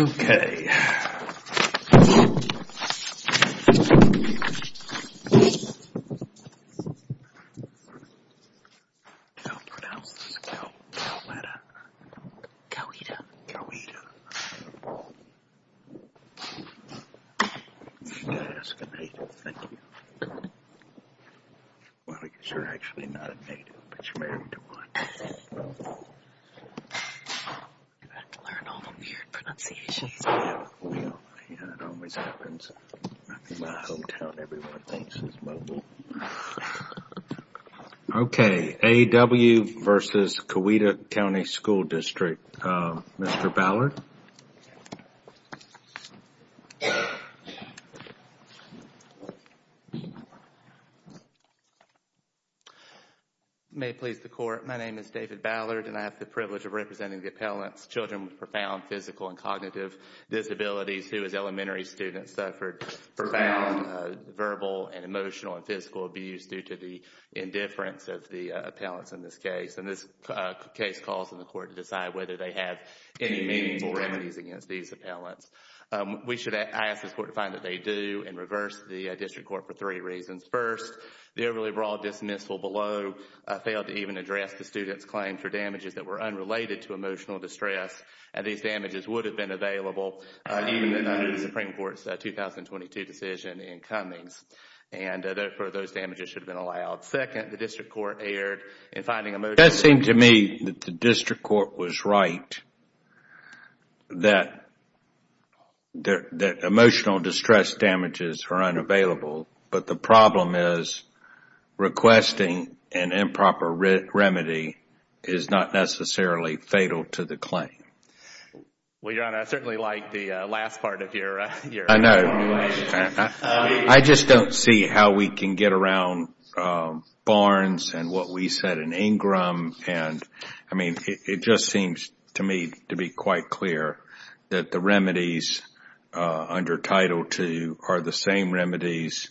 Okay. I don't pronounce this cow letter. Coweta. Coweta. That's a good name. Thank you. Well, I guess you're actually not a native, but you're married to one. You have to learn all the weird pronunciations. Yeah, it always happens. In my hometown, everyone thinks it's mobile. Okay. A.W. v. Coweta County School District. Mr. Ballard? May it please the court. My name is David Ballard, and I have the privilege of representing the appellant's children with profound physical and cognitive disabilities who, as elementary students, suffered profound verbal and emotional and physical abuse due to the indifference of the appellants in this case. And this case calls on the court to decide whether they have any meaningful remedies against these appellants. We should ask this court to find that they do and reverse the district court for three reasons. First, the overly broad dismissal below failed to even address the student's claim for damages that were unrelated to emotional distress, and these damages would have been available even under the Supreme Court's 2022 decision in Cummings. And, therefore, those damages should have been allowed. Second, the district court erred in finding emotional distress It seemed to me that the district court was right that emotional distress damages are unavailable, but the problem is requesting an improper remedy is not necessarily fatal to the claim. Well, Your Honor, I certainly like the last part of your explanation. I just don't see how we can get around Barnes and what we said in Ingram. And, I mean, it just seems to me to be quite clear that the remedies under Title II are the same remedies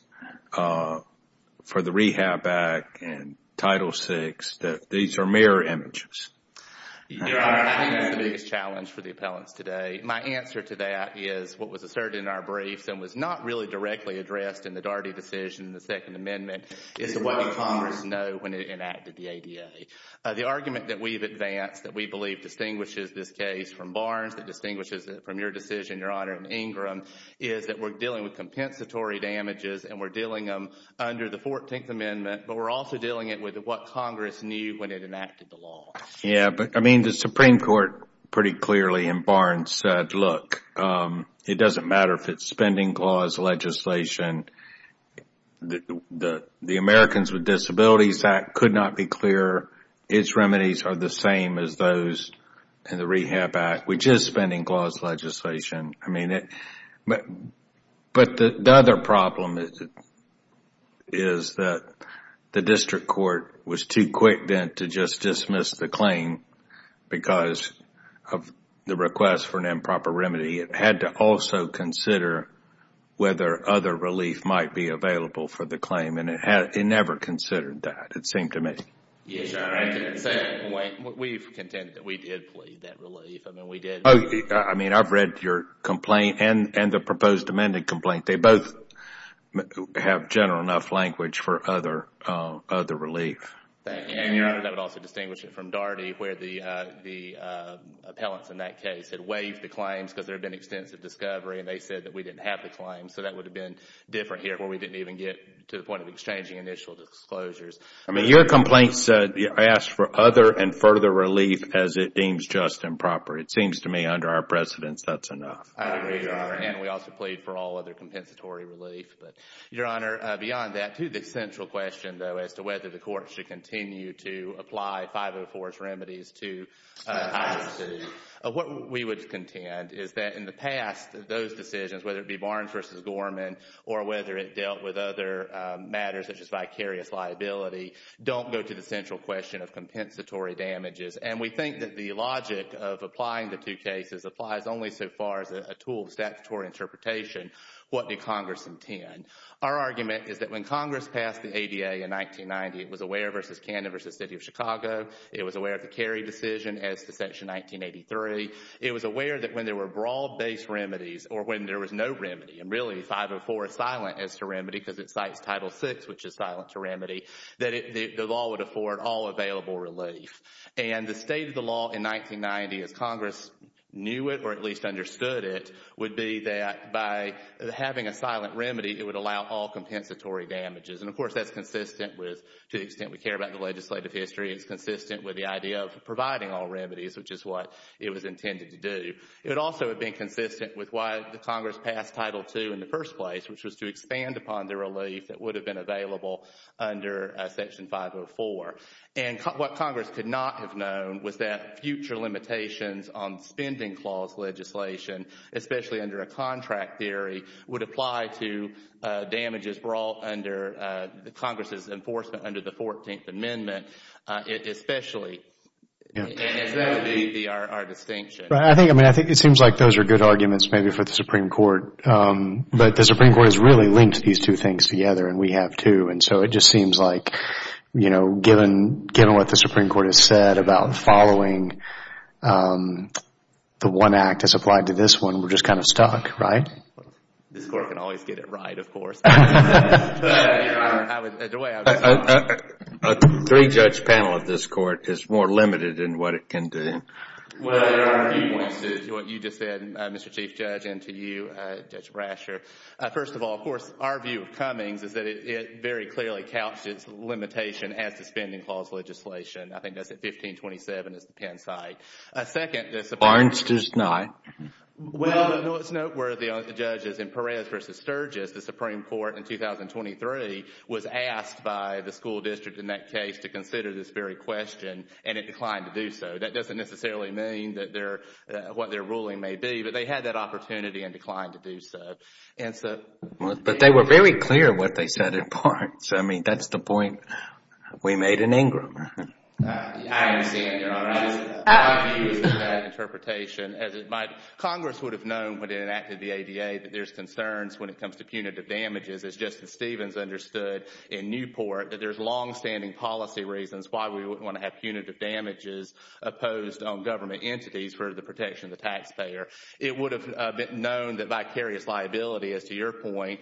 for the Rehab Act and Title VI, that these are mirror images. Your Honor, I think that's the biggest challenge for the appellants today. My answer to that is what was asserted in our briefs and was not really directly addressed in the Daugherty decision in the Second Amendment is what Congress knows when it enacted the ADA. The argument that we've advanced that we believe distinguishes this case from Barnes, that distinguishes it from your decision, Your Honor, in Ingram, is that we're dealing with compensatory damages and we're dealing them under the Fourteenth Amendment, but we're also dealing it with what Congress knew when it enacted the law. Yeah, but, I mean, the Supreme Court pretty clearly in Barnes said, look, it doesn't matter if it's spending clause legislation. The Americans with Disabilities Act could not be clearer. Its remedies are the same as those in the Rehab Act, which is spending clause legislation. I mean, but the other problem is that the district court was too quick then to just dismiss the claim because of the request for an improper remedy. It had to also consider whether other relief might be available for the claim, and it never considered that, it seemed to me. Yes, Your Honor. We've contended that we did plead that relief. I mean, we did. I mean, I've read your complaint and the proposed amended complaint. They both have general enough language for other relief. Thank you, Your Honor. And that would also distinguish it from Daugherty where the appellants in that case had waived the claims because there had been extensive discovery and they said that we didn't have the claims, so that would have been different here where we didn't even get to the point of exchanging initial disclosures. I mean, your complaint asks for other and further relief as it deems just and proper. It seems to me under our precedence that's enough. I agree, Your Honor. And we also plead for all other compensatory relief. But, Your Honor, beyond that, to the central question, though, as to whether the court should continue to apply 504's remedies to I-22, what we would contend is that in the past those decisions, whether it be Barnes v. Gorman or whether it dealt with other matters such as vicarious liability, don't go to the central question of compensatory damages. And we think that the logic of applying the two cases applies only so far as a tool of statutory interpretation, what did Congress intend. Our argument is that when Congress passed the ADA in 1990, it was aware of v. Canada v. City of Chicago. It was aware of the Cary decision as to Section 1983. It was aware that when there were broad-based remedies or when there was no remedy and really 504 is silent as to remedy because it cites Title VI, which is silent to remedy, that the law would afford all available relief. And the state of the law in 1990, as Congress knew it or at least understood it, would be that by having a silent remedy, it would allow all compensatory damages. And, of course, that's consistent with, to the extent we care about the legislative history, it's consistent with the idea of providing all remedies, which is what it was intended to do. It would also have been consistent with why Congress passed Title II in the first place, which was to expand upon the relief that would have been available under Section 504. And what Congress could not have known was that future limitations on spending clause legislation, especially under a contract theory, would apply to damages brought under Congress's enforcement under the 14th Amendment, especially. And that would be our distinction. I think it seems like those are good arguments maybe for the Supreme Court. But the Supreme Court has really linked these two things together, and we have too. And so it just seems like, you know, given what the Supreme Court has said about following the one act as applied to this one, we're just kind of stuck, right? This Court can always get it right, of course. A three-judge panel of this Court is more limited in what it can do. Well, there are a few points to what you just said, Mr. Chief Judge, and to you, Judge Brasher. First of all, of course, our view of Cummings is that it very clearly couched its limitation as to spending clause legislation. I think that's at 1527 as the Penn site. Barnes does not. Well, it's noteworthy of the judges in Perez v. Sturgis, the Supreme Court in 2023, was asked by the school district in that case to consider this very question, and it declined to do so. That doesn't necessarily mean what their ruling may be, but they had that opportunity and declined to do so. But they were very clear what they said in parts. I mean, that's the point we made in Ingram. I understand, Your Honor. My view is that that interpretation, as it might, Congress would have known when it enacted the ADA that there's concerns when it comes to punitive damages, as Justice Stevens understood in Newport, that there's longstanding policy reasons why we wouldn't want to have punitive damages imposed on government entities for the protection of the taxpayer. It would have been known that vicarious liability, as to your point,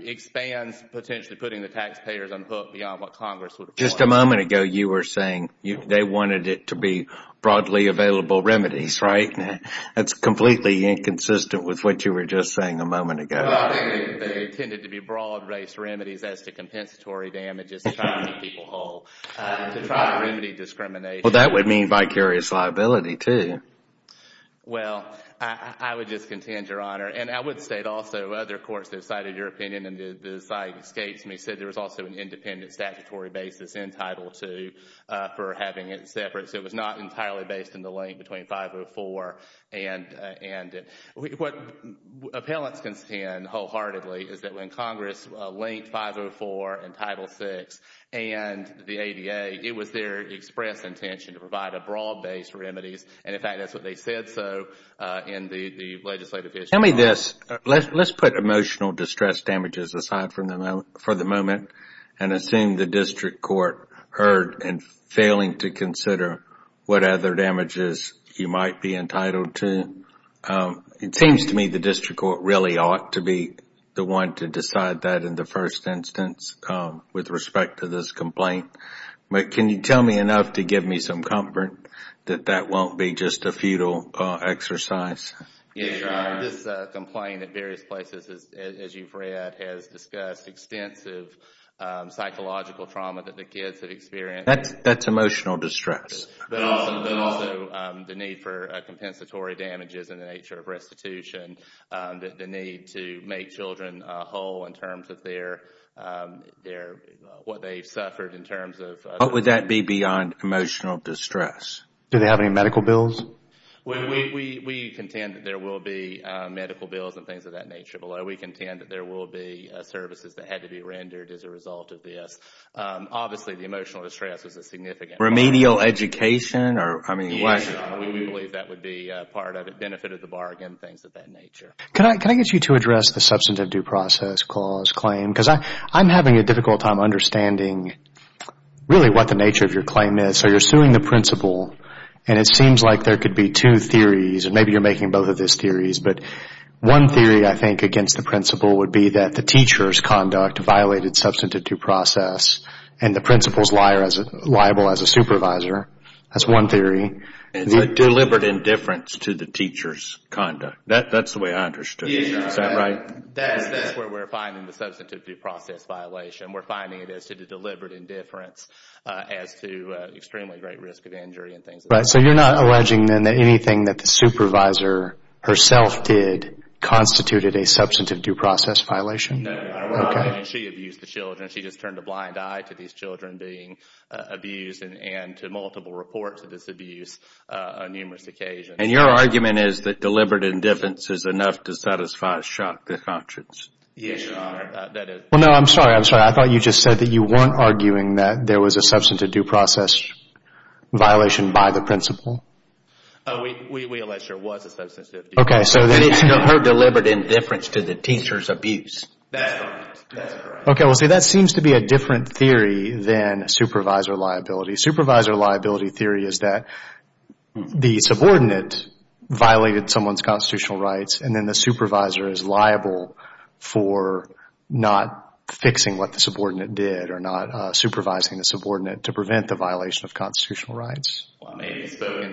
expands potentially putting the taxpayers on hook beyond what Congress would have thought. Just a moment ago, you were saying they wanted it to be broadly available remedies, right? That's completely inconsistent with what you were just saying a moment ago. They tended to be broad-race remedies as to compensatory damages to try to keep people whole, to try to remedy discrimination. Well, that would mean vicarious liability, too. Well, I would just contend, Your Honor, and I would state also other courts have cited your opinion, and the site escapes me, said there was also an independent statutory basis in Title II for having it separate. So it was not entirely based in the link between 504 and what appellants contend wholeheartedly is that when Congress linked 504 and Title VI and the ADA, it was their express intention to provide a broad-based remedies, and, in fact, that's what they said so in the legislative issue. Tell me this. Let's put emotional distress damages aside for the moment and assume the district court heard in failing to consider what other damages you might be entitled to. It seems to me the district court really ought to be the one to decide that in the first instance with respect to this complaint. But can you tell me enough to give me some comfort that that won't be just a futile exercise? Yes, Your Honor, this complaint at various places, as you've read, has discussed extensive psychological trauma that the kids have experienced. That's emotional distress. But also the need for compensatory damages in the nature of restitution, the need to make children whole in terms of what they've suffered in terms of What would that be beyond emotional distress? Do they have any medical bills? We contend that there will be medical bills and things of that nature below. We contend that there will be services that had to be rendered as a result of this. Obviously, the emotional distress was a significant part of it. Remedial education? Yes, Your Honor, we believe that would be part of it, benefit of the bargain, things of that nature. Can I get you to address the substantive due process clause claim? Because I'm having a difficult time understanding really what the nature of your claim is. So you're suing the principal, and it seems like there could be two theories, and maybe you're making both of those theories. But one theory, I think, against the principal would be that the teacher's conduct violated substantive due process, and the principal is liable as a supervisor. That's one theory. Deliberate indifference to the teacher's conduct. That's the way I understood it. Is that right? That's where we're finding the substantive due process violation. We're finding it as to the deliberate indifference as to extremely great risk of injury and things of that nature. So you're not alleging, then, that anything that the supervisor herself did constituted a substantive due process violation? No. She abused the children. She just turned a blind eye to these children being abused and to multiple reports of this abuse on numerous occasions. And your argument is that deliberate indifference is enough to satisfy shock to conscience? Yes, Your Honor. Well, no, I'm sorry. I'm sorry. I thought you just said that you weren't arguing that there was a substantive due process violation by the principal. We allege there was a substantive due process. And it's her deliberate indifference to the teacher's abuse. That's correct. Okay. Well, see, that seems to be a different theory than supervisor liability. Supervisor liability theory is that the subordinate violated someone's constitutional rights, and then the supervisor is liable for not fixing what the subordinate did or not supervising the subordinate to prevent the violation of constitutional rights. And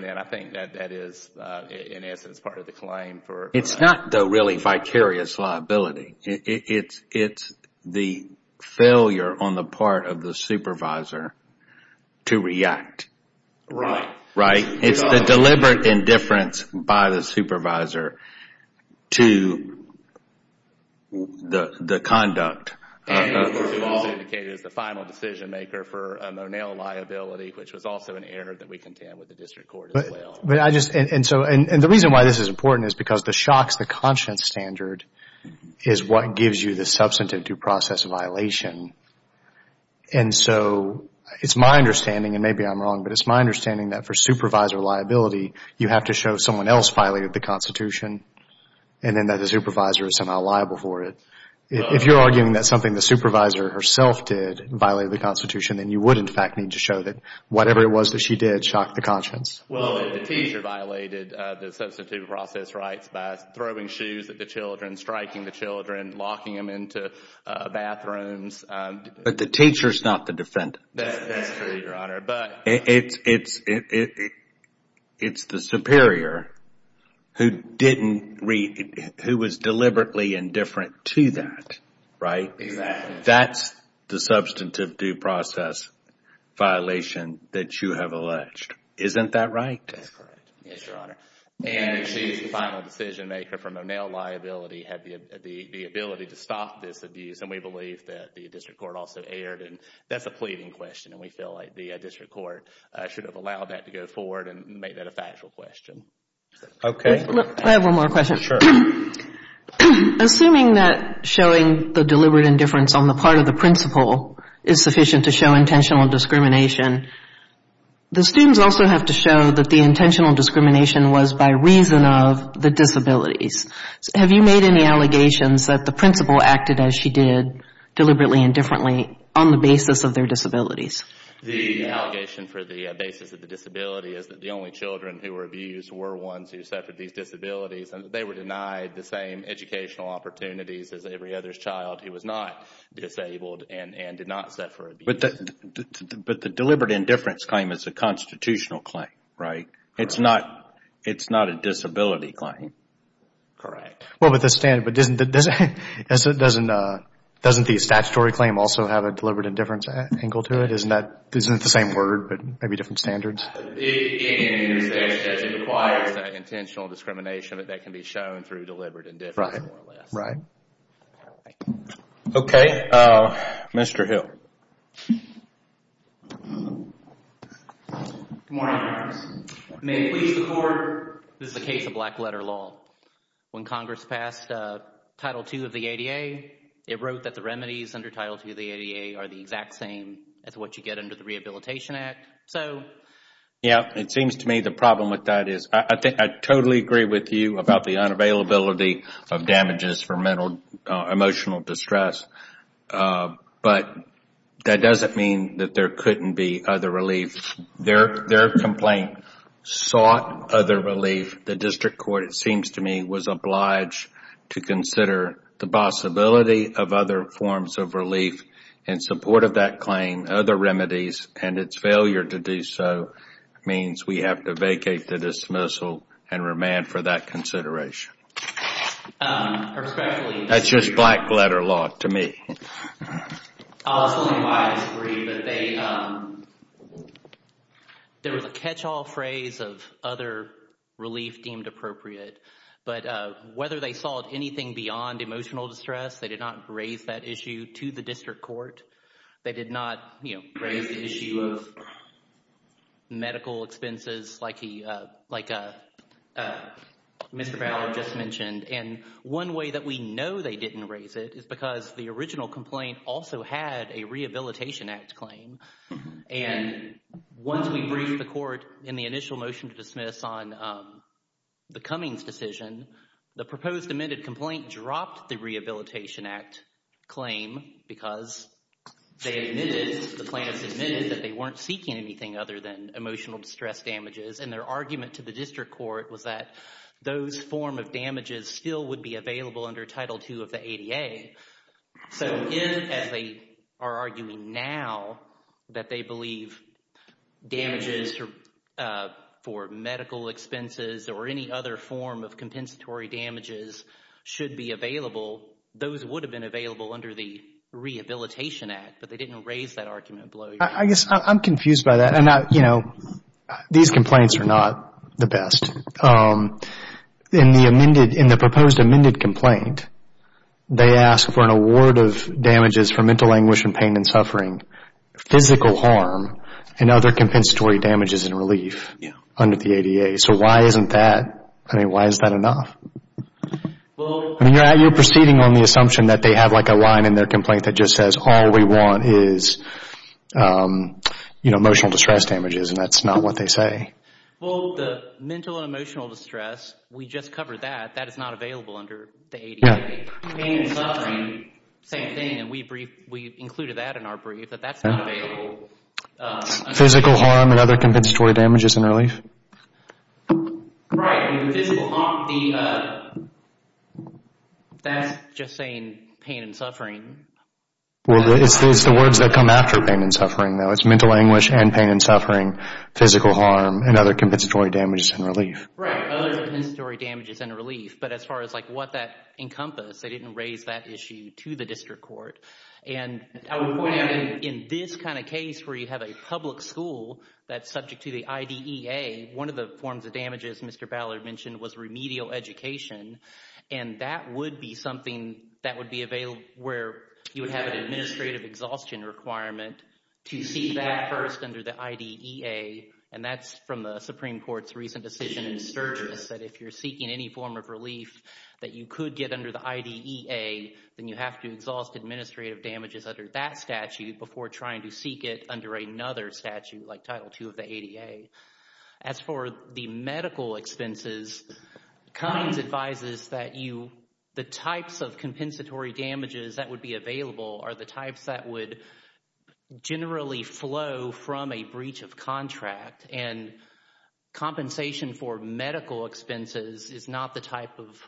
I think that that is, in essence, part of the claim. It's not the really vicarious liability. It's the failure on the part of the supervisor to react. Right. It's the deliberate indifference by the supervisor to the conduct. And it was indicated as the final decision maker for a Monell liability, which was also an error that we contend with the district court as well. And the reason why this is important is because the shocks to conscience standard is what gives you the substantive due process violation. And so it's my understanding, and maybe I'm wrong, but it's my understanding that for supervisor liability, you have to show someone else violated the Constitution and then that the supervisor is somehow liable for it. If you're arguing that something the supervisor herself did violated the Constitution, then you would, in fact, need to show that whatever it was that she did shocked the conscience. Well, the teacher violated the substantive due process rights by throwing shoes at the children, striking the children, locking them into bathrooms. But the teacher is not the defendant. That's true, Your Honor. It's the superior who didn't read, who was deliberately indifferent to that, right? Exactly. That's the substantive due process violation that you have alleged. Isn't that right? That's correct. Yes, Your Honor. And she's the final decision maker from a Monell liability, had the ability to stop this abuse. And we believe that the district court also erred. That's a pleading question and we feel like the district court should have allowed that to go forward and made that a factual question. Okay. I have one more question. Assuming that showing the deliberate indifference on the part of the principal is sufficient to show intentional discrimination, the students also have to show that the intentional discrimination was by reason of the disabilities. Have you made any allegations that the principal acted as she did deliberately indifferently on the basis of their disabilities? The allegation for the basis of the disability is that the only children who were abused were ones who suffered these disabilities and that they were denied the same educational opportunities as every other child who was not disabled and did not suffer abuse. But the deliberate indifference claim is a constitutional claim, right? It's not a disability claim. Correct. Well, but doesn't the statutory claim also have a deliberate indifference angle to it? Isn't it the same word but maybe different standards? It requires intentional discrimination that can be shown through deliberate indifference more or less. Okay. Mr. Hill. Good morning, Your Honor. May it please the Court, this is a case of black letter law. When Congress passed Title II of the ADA, it wrote that the remedies under Title II of the ADA are the exact same as what you get under the Rehabilitation Act. So... Yeah, it seems to me the problem with that is, I totally agree with you about the unavailability of damages for mental, emotional distress, but that doesn't mean that there couldn't be other relief. Their complaint sought other relief. The district court, it seems to me, was obliged to consider the possibility of other forms of relief in support of that claim, other remedies, and its failure to do so means we have to vacate the dismissal and remand for that consideration. That's just black letter law to me. I'll explain why I agree, but they... There was a catch-all phrase of other relief deemed appropriate, but whether they sought anything beyond emotional distress, they did not raise that issue to the district court. They did not, you know, raise the issue of medical expenses like Mr. Fowler just mentioned. And one way that we know they didn't raise it is because the original complaint also had a Rehabilitation Act claim, and once we briefed the court in the initial motion to dismiss on the Cummings decision, the proposed amended complaint dropped the Rehabilitation Act claim because they admitted, the plaintiffs admitted, that they weren't seeking anything other than emotional distress damages, and their argument to the district court was that those form of damages still would be available under Title II of the ADA. So if, as they are arguing now, that they believe damages for medical expenses or any other form of compensatory damages should be available, those would have been available under the Rehabilitation Act, but they didn't raise that argument below. I guess I'm confused by that. You know, these complaints are not the best. In the proposed amended complaint, they ask for an award of damages for mental anguish and pain and suffering, physical harm, and other compensatory damages and relief under the ADA. So why isn't that, I mean, why is that enough? I mean, you're proceeding on the assumption that they have like a line in their complaint that just says all we want is, you know, emotional distress damages, and that's not what they say. Well, the mental and emotional distress, we just covered that. That is not available under the ADA. Pain and suffering, same thing, and we included that in our brief, but that's not available. Physical harm and other compensatory damages and relief? Right, physical harm, that's just saying pain and suffering. Well, it's the words that come after pain and suffering, though. It's mental anguish and pain and suffering, physical harm, and other compensatory damages and relief. Right, other compensatory damages and relief, but as far as like what that encompassed, they didn't raise that issue to the district court. And I would point out in this kind of case where you have a public school that's subject to the IDEA, one of the forms of damages Mr. Ballard mentioned was remedial education, and that would be something that would be available where you would have an administrative exhaustion requirement to seek that first under the IDEA, and that's from the Supreme Court's recent decision in Sturgis that if you're seeking any form of relief that you could get under the IDEA, then you have to exhaust administrative damages under that statute before trying to seek it under another statute like Title II of the ADA. As for the medical expenses, Cummings advises that the types of compensatory damages that would be available are the types that would generally flow from a breach of contract, and compensation for medical expenses is not the type of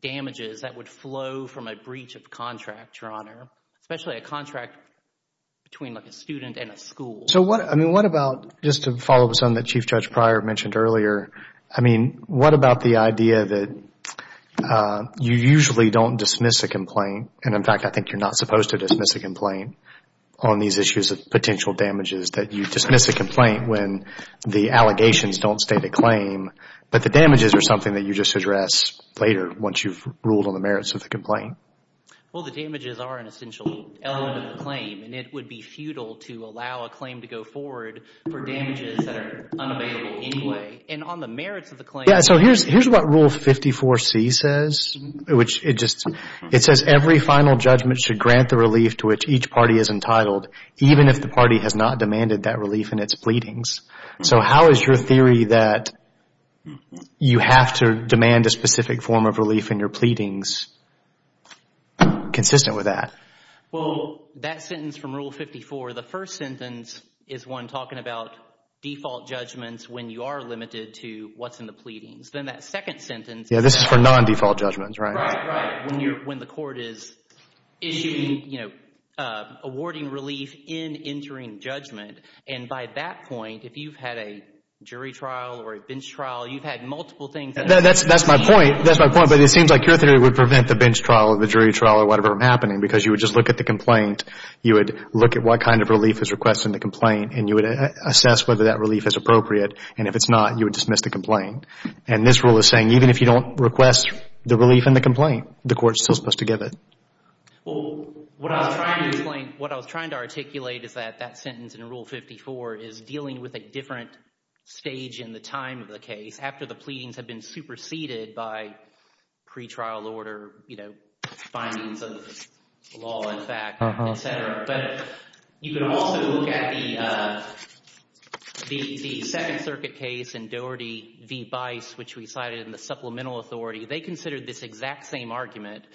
damages that would flow from a breach of contract, Your Honor, especially a contract between a student and a school. So what about, just to follow up on something that Chief Judge Pryor mentioned earlier, what about the idea that you usually don't dismiss a complaint, and in fact I think you're not supposed to dismiss a complaint on these issues of potential damages, that you dismiss a complaint when the allegations don't state a claim, but the damages are something that you just address later once you've ruled on the merits of the complaint? Well, the damages are an essential element of the claim, and it would be futile to allow a claim to go forward for damages that are unavailable anyway, and on the merits of the claim... Yeah, so here's what Rule 54C says, which it just, it says every final judgment should grant the relief to which each party is entitled, even if the party has not demanded that relief in its pleadings. So how is your theory that you have to demand a specific form of relief in your pleadings consistent with that? Well, that sentence from Rule 54, the first sentence is one talking about default judgments when you are limited to what's in the pleadings. Then that second sentence... Yeah, this is for non-default judgments, right? Right, right, when the court is issuing, you know, awarding relief in entering judgment, and by that point, if you've had a jury trial or a bench trial, you've had multiple things... That's my point, that's my point, but it seems like your theory would prevent the bench trial or the jury trial or whatever from happening because you would just look at the complaint, you would look at what kind of relief is requested in the complaint, and you would assess whether that relief is appropriate, and if it's not, you would dismiss the complaint. And this rule is saying even if you don't request the relief in the complaint, the court is still supposed to give it. Well, what I was trying to explain, what I was trying to articulate is that that sentence in Rule 54 is dealing with a different stage in the time of the case after the pleadings have been superseded by pretrial order, you know, findings of law and fact, et cetera. But you can also look at the Second Circuit case in Doherty v. Bice, which we cited in the supplemental authority. They considered this exact same argument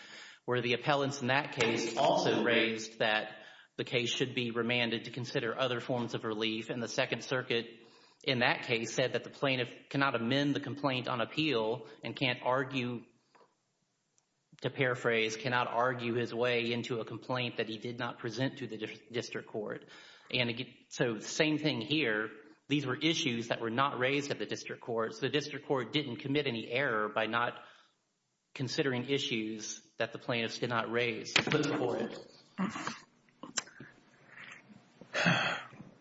where the appellants in that case also raised that the case should be remanded to consider other forms of relief, and the Second Circuit in that case said that the plaintiff cannot amend the complaint on appeal and can't argue, to paraphrase, cannot argue his way into a complaint that he did not present to the district court. So same thing here. These were issues that were not raised at the district courts. The district court didn't commit any error by not considering issues that the plaintiffs did not raise. Mr. Boyle.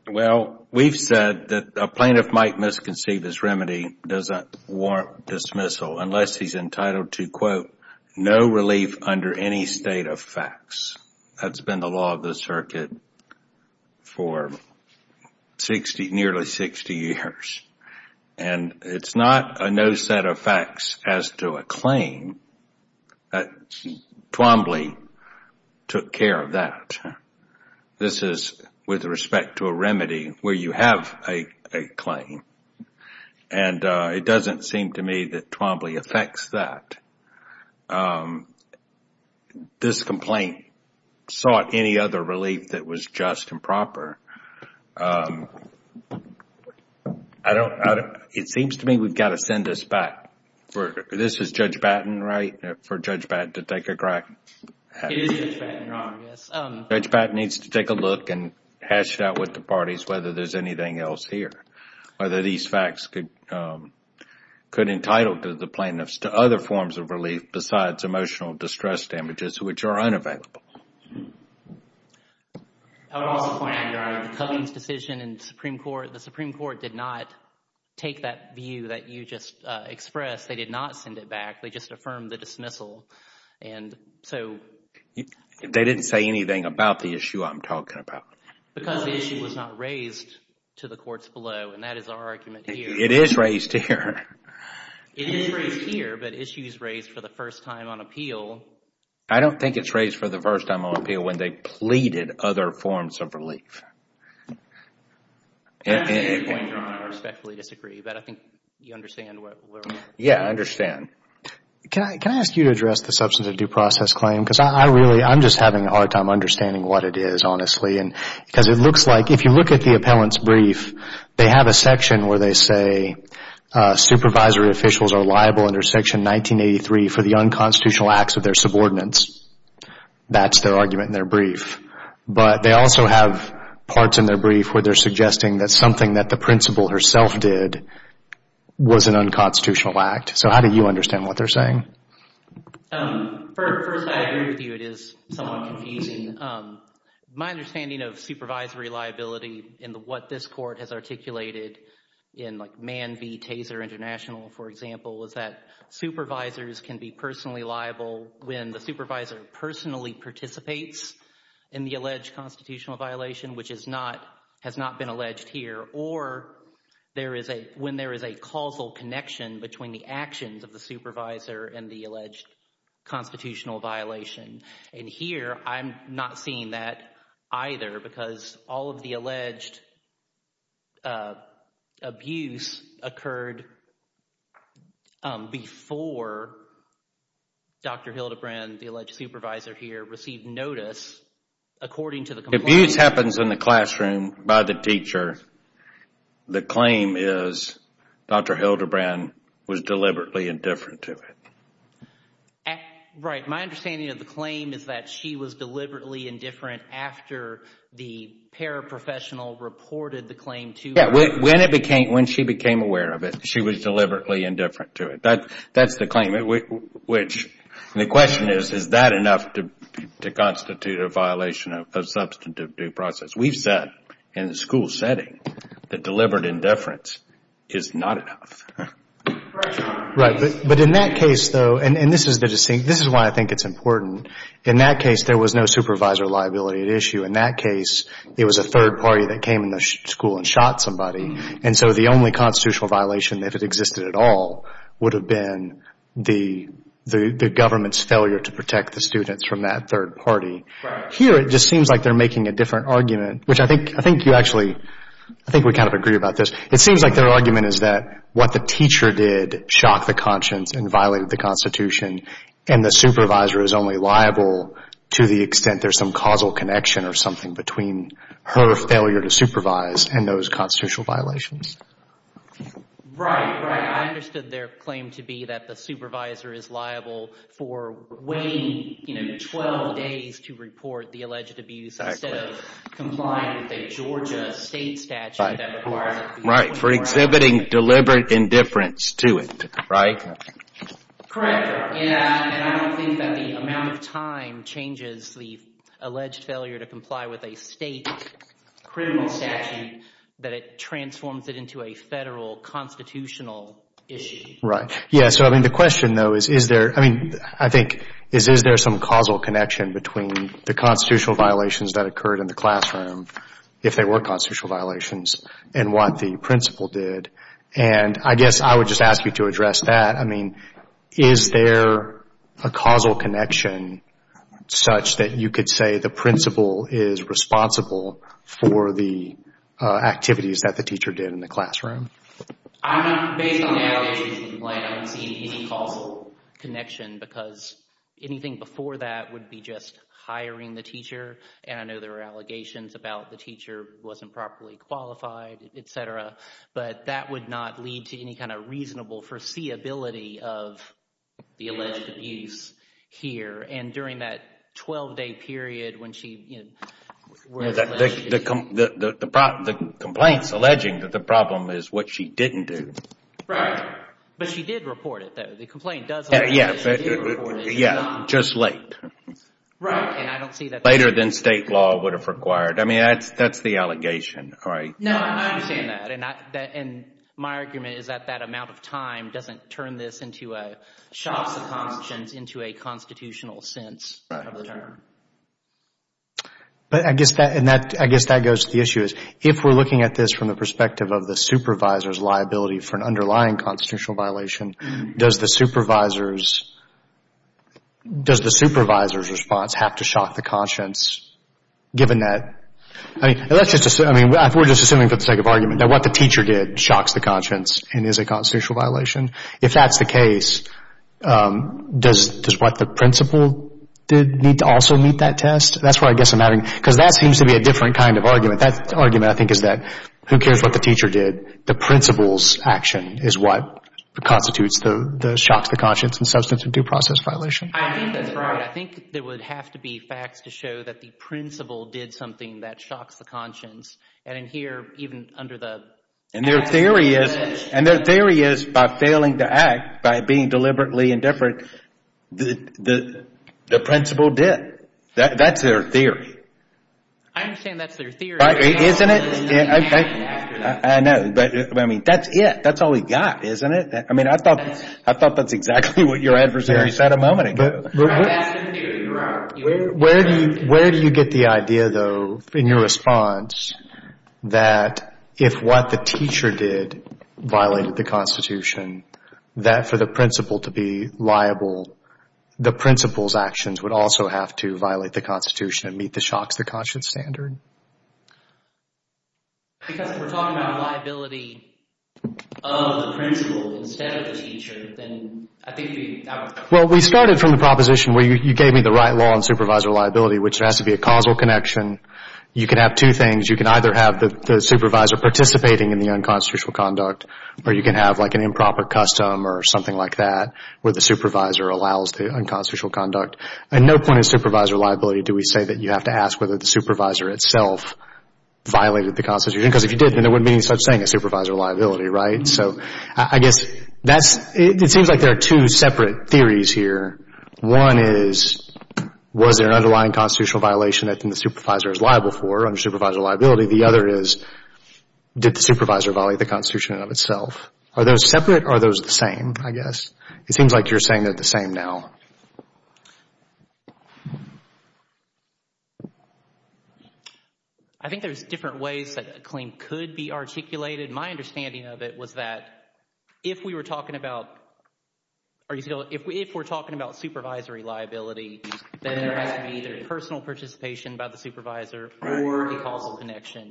Well, we've said that a plaintiff might misconceive his remedy does not warrant dismissal unless he's entitled to, quote, no relief under any state of facts. That's been the law of the circuit for nearly 60 years. And it's not a no set of facts as to a claim. Twombly took care of that. This is with respect to a remedy where you have a claim. And it doesn't seem to me that Twombly affects that. This complaint sought any other relief that was just and proper. It seems to me we've got to send this back. This is Judge Batten, right, for Judge Batten to take a crack at it? It is Judge Batten, Your Honor, yes. Judge Batten needs to take a look and hash it out with the parties whether there's anything else here, whether these facts could entitle the plaintiffs to other forms of relief besides emotional distress damages, which are unavailable. I would also point, Your Honor, the Cummings decision in the Supreme Court, the Supreme Court did not take that view that you just expressed. They did not send it back. They just affirmed the dismissal. They didn't say anything about the issue I'm talking about. Because the issue was not raised to the courts below, and that is our argument here. It is raised here. It is raised here, but issues raised for the first time on appeal. I don't think it's raised for the first time on appeal when they pleaded other forms of relief. At this point, Your Honor, I respectfully disagree, but I think you understand where we're going. Yes, I understand. Can I ask you to address the substance of due process claim? Because I'm just having a hard time understanding what it is, honestly. Because it looks like, if you look at the appellant's brief, they have a section where they say, supervisory officials are liable under Section 1983 for the unconstitutional acts of their subordinates. That's their argument in their brief. But they also have parts in their brief where they're suggesting that something that the principal herself did was an unconstitutional act. So how do you understand what they're saying? First, I agree with you. It is somewhat confusing. My understanding of supervisory liability and what this Court has articulated in Mann v. Taser International, for example, is that supervisors can be personally liable when the supervisor personally participates in the alleged constitutional violation, which has not been alleged here, or when there is a causal connection between the actions of the supervisor and the alleged constitutional violation. And here, I'm not seeing that either, because all of the alleged abuse occurred before Dr. Hildebrand, the alleged supervisor here, received notice according to the complaint. Abuse happens in the classroom by the teacher. The claim is Dr. Hildebrand was deliberately indifferent to it. Right. My understanding of the claim is that she was deliberately indifferent after the paraprofessional reported the claim to her. Yeah, when she became aware of it, she was deliberately indifferent to it. That's the claim, which the question is, is that enough to constitute a violation of substantive due process? We've said in the school setting that deliberate indifference is not enough. Right, but in that case, though, and this is why I think it's important, in that case, there was no supervisor liability at issue. In that case, it was a third party that came in the school and shot somebody. And so the only constitutional violation that had existed at all would have been the government's failure to protect the students from that third party. Right. Here, it just seems like they're making a different argument, which I think you actually, I think we kind of agree about this. It seems like their argument is that what the teacher did shocked the conscience and violated the Constitution, and the supervisor is only liable to the extent there's some causal connection or something between her failure to supervise and those constitutional violations. Right, right. I understood their claim to be that the supervisor is liable for waiting 12 days to report the alleged abuse instead of complying with a Georgia state statute. Right, for exhibiting deliberate indifference to it, right? Correct, and I don't think that the amount of time changes the alleged failure to comply with a state criminal statute that it transforms it into a federal constitutional issue. Right. Yeah, so I mean the question, though, is is there, I mean, I think, is is there some causal connection between the constitutional violations that occurred in the classroom, if they were constitutional violations, and what the principal did? And I guess I would just ask you to address that. I mean, is there a causal connection such that you could say the principal is responsible for the activities that the teacher did in the classroom? I'm not, based on the allegations, I don't see any causal connection because anything before that would be just hiring the teacher, and I know there are allegations about the teacher wasn't properly qualified, etc. But that would not lead to any kind of reasonable foreseeability of the alleged abuse here. And during that 12-day period when she, you know, The complaint's alleging that the problem is what she didn't do. Right, but she did report it, though. The complaint does say that she did report it. Yeah, just late. Right, and I don't see that. Later than state law would have required. I mean, that's the allegation, right? No, I understand that, and my argument is that that amount of time doesn't turn this into a shocks of conscience into a constitutional sense of the term. But I guess that goes to the issue is if we're looking at this from the perspective of the supervisor's liability for an underlying constitutional violation, does the supervisor's response have to shock the conscience given that? I mean, we're just assuming for the sake of argument that what the teacher did shocks the conscience and is a constitutional violation. If that's the case, does what the principal did need to also meet that test? That's where I guess I'm having because that seems to be a different kind of argument. That argument, I think, is that who cares what the teacher did. The principal's action is what constitutes the shocks of conscience and substance of due process violation. I think that's right. I think there would have to be facts to show that the principal did something that shocks the conscience. And in here, even under the action of the student. And their theory is by failing to act, by being deliberately indifferent, the principal did. That's their theory. I understand that's their theory. Isn't it? I know, but I mean, that's it. That's all we've got, isn't it? I mean, I thought that's exactly what your adversary said a moment ago. That's the theory you're on. Where do you get the idea, though, in your response, that if what the teacher did violated the Constitution, that for the principal to be liable, the principal's actions would also have to violate the Constitution and meet the shocks of conscience standard? Because if we're talking about liability of the principal instead of the teacher, then I think we... Well, we started from the proposition where you gave me the right law on supervisor liability, which has to be a causal connection. You can have two things. You can either have the supervisor participating in the unconstitutional conduct, or you can have, like, an improper custom or something like that where the supervisor allows the unconstitutional conduct. At no point in supervisor liability do we say that you have to ask whether the supervisor itself violated the Constitution. Because if you did, then there wouldn't be any such thing as supervisor liability, right? So I guess that's... It seems like there are two separate theories here. One is, was there an underlying constitutional violation that the supervisor is liable for under supervisor liability? The other is, did the supervisor violate the Constitution in and of itself? Are those separate or are those the same, I guess? It seems like you're saying they're the same now. I think there's different ways that a claim could be articulated. My understanding of it was that if we were talking about... If we're talking about supervisory liability, then there has to be either personal participation by the supervisor or a causal connection.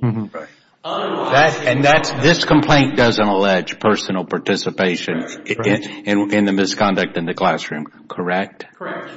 And this complaint doesn't allege personal participation in the misconduct in the classroom, correct? Correct.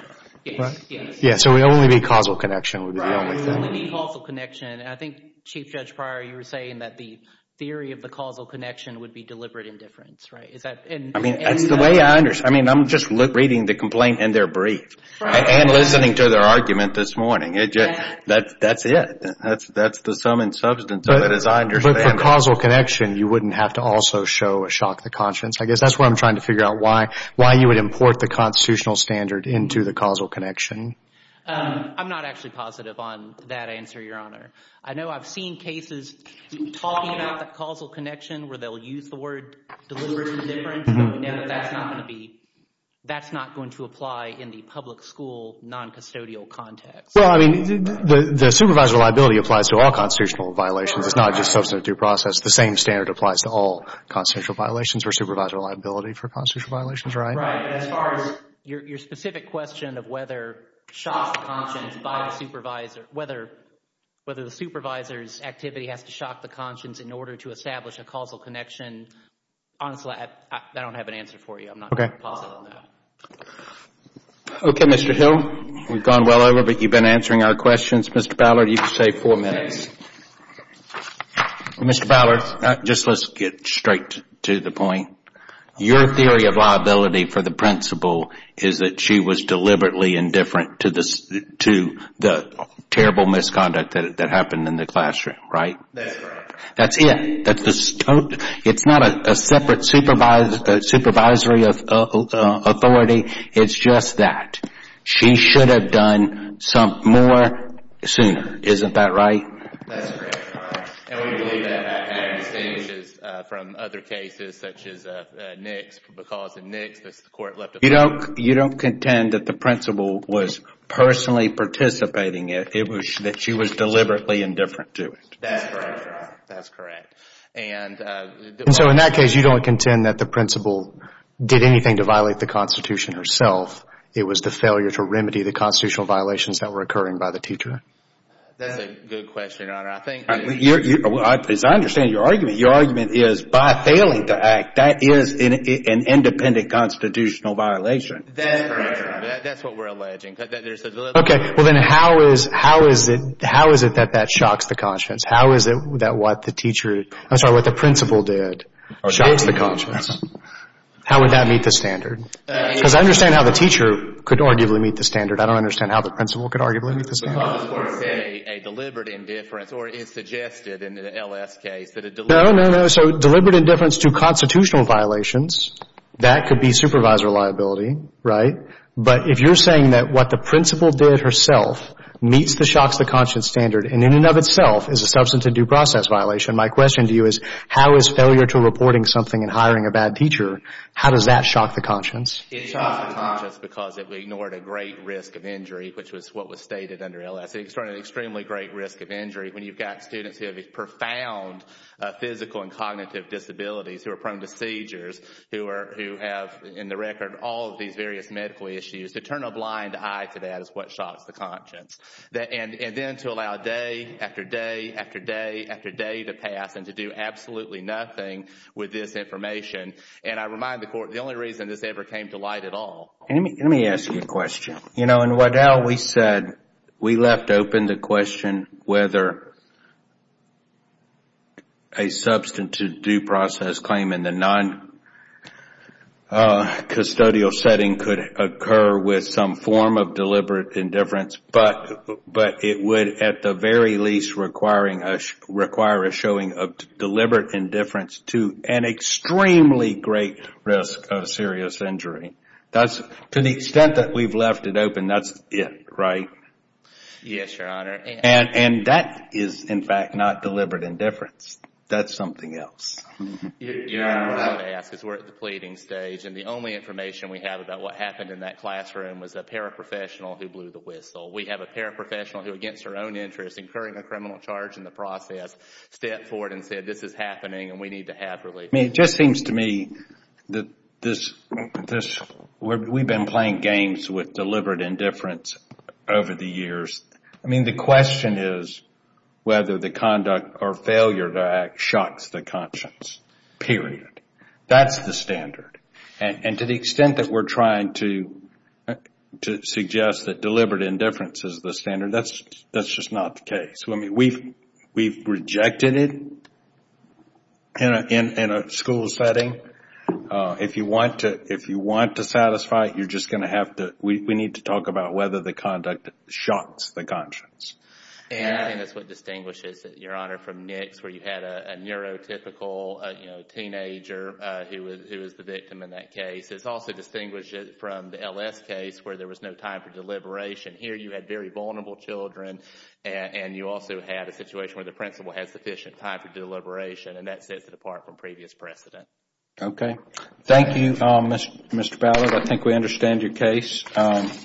Yes. So it would only be causal connection. It would only be causal connection. I think, Chief Judge Pryor, you were saying that the theory of the causal connection would be deliberate indifference, right? That's the way I understand it. I'm just reading the complaint in their brief and listening to their argument this morning. That's it. That's the sum and substance of it as I understand it. But for causal connection, you wouldn't have to also show a shock to conscience. I guess that's where I'm trying to figure out why you would import the constitutional standard into the causal connection. I'm not actually positive on that answer, Your Honor. I know I've seen cases talking about the causal connection where they'll use the word deliberate indifference, but we know that that's not going to be, that's not going to apply in the public school noncustodial context. Well, I mean, the supervisor liability applies to all constitutional violations. It's not just substantive due process. The same standard applies to all constitutional violations or supervisor liability for constitutional violations, right? Right. As far as your specific question of whether shock to conscience by the supervisor, whether the supervisor's activity has to shock the conscience in order to establish a causal connection, honestly, I don't have an answer for you. I'm not positive on that. Okay, Mr. Hill, we've gone well over, but you've been answering our questions. Mr. Ballard, you've saved four minutes. Mr. Ballard, just let's get straight to the point. Your theory of liability for the principal is that she was deliberately indifferent to the terrible misconduct that happened in the classroom, right? That's right. That's it. It's not a separate supervisory authority. It's just that. She should have done some more sooner. Isn't that right? That's correct. And we believe that had to be distinguished from other cases such as Nick's because in Nick's, the court left a point. You don't contend that the principal was personally participating. It was that she was deliberately indifferent to it. That's correct, Your Honor. That's correct. And so in that case, you don't contend that the principal did anything to violate the Constitution herself. It was the failure to remedy the constitutional violations that were occurring by the teacher. That's a good question, Your Honor. As I understand your argument, your argument is by failing to act, that is an independent constitutional violation. That's correct, Your Honor. That's what we're alleging. Okay, well then how is it that that shocks the conscience? How is it that what the teacher, I'm sorry, what the principal did shocks the conscience? How would that meet the standard? Because I understand how the teacher could arguably meet the standard. I don't understand how the principal could arguably meet the standard. Well, I was going to say a deliberate indifference or it's suggested in the L.S. case that a deliberate indifference No, no, no. So deliberate indifference to constitutional violations, that could be supervisor liability, right? But if you're saying that what the principal did herself meets the shocks the conscience standard and in and of itself is a substance and due process violation, my question to you is how is failure to reporting something and hiring a bad teacher, how does that shock the conscience? It shocks the conscience because it ignored a great risk of injury, which was what was stated under L.S. It's an extremely great risk of injury when you've got students who have profound physical and cognitive disabilities who are prone to seizures, who have, in the record, all of these various medical issues. To turn a blind eye to that is what shocks the conscience. And then to allow day after day after day after day to pass and to do absolutely nothing with this information. And I remind the Court, the only reason this ever came to light at all. Let me ask you a question. You know, in Waddell, we said we left open the question whether a substantive due process claim in the non-custodial setting could occur with some form of deliberate indifference. But it would at the very least require a showing of deliberate indifference to an extremely great risk of serious injury. To the extent that we've left it open, that's it, right? Yes, Your Honor. And that is, in fact, not deliberate indifference. That's something else. Your Honor, what I would ask is we're at the pleading stage and the only information we have about what happened in that classroom was a paraprofessional who blew the whistle. We have a paraprofessional who, against her own interest, incurring a criminal charge in the process, stepped forward and said this is happening and we need to have relief. I mean, it just seems to me that we've been playing games with deliberate indifference over the years. I mean, the question is whether the conduct or failure to act shocks the conscience, period. That's the standard. And to the extent that we're trying to suggest that deliberate indifference is the standard, that's just not the case. I mean, we've rejected it in a school setting. If you want to satisfy it, you're just going to have to we need to talk about whether the conduct shocks the conscience. And I think that's what distinguishes it, Your Honor, from NICS, where you had a neurotypical teenager who was the victim in that case. It also distinguishes it from the LS case where there was no time for deliberation. Here you had very vulnerable children and you also had a situation where the principal had sufficient time for deliberation and that sets it apart from previous precedent. Okay. Thank you, Mr. Ballard. I think we understand your case.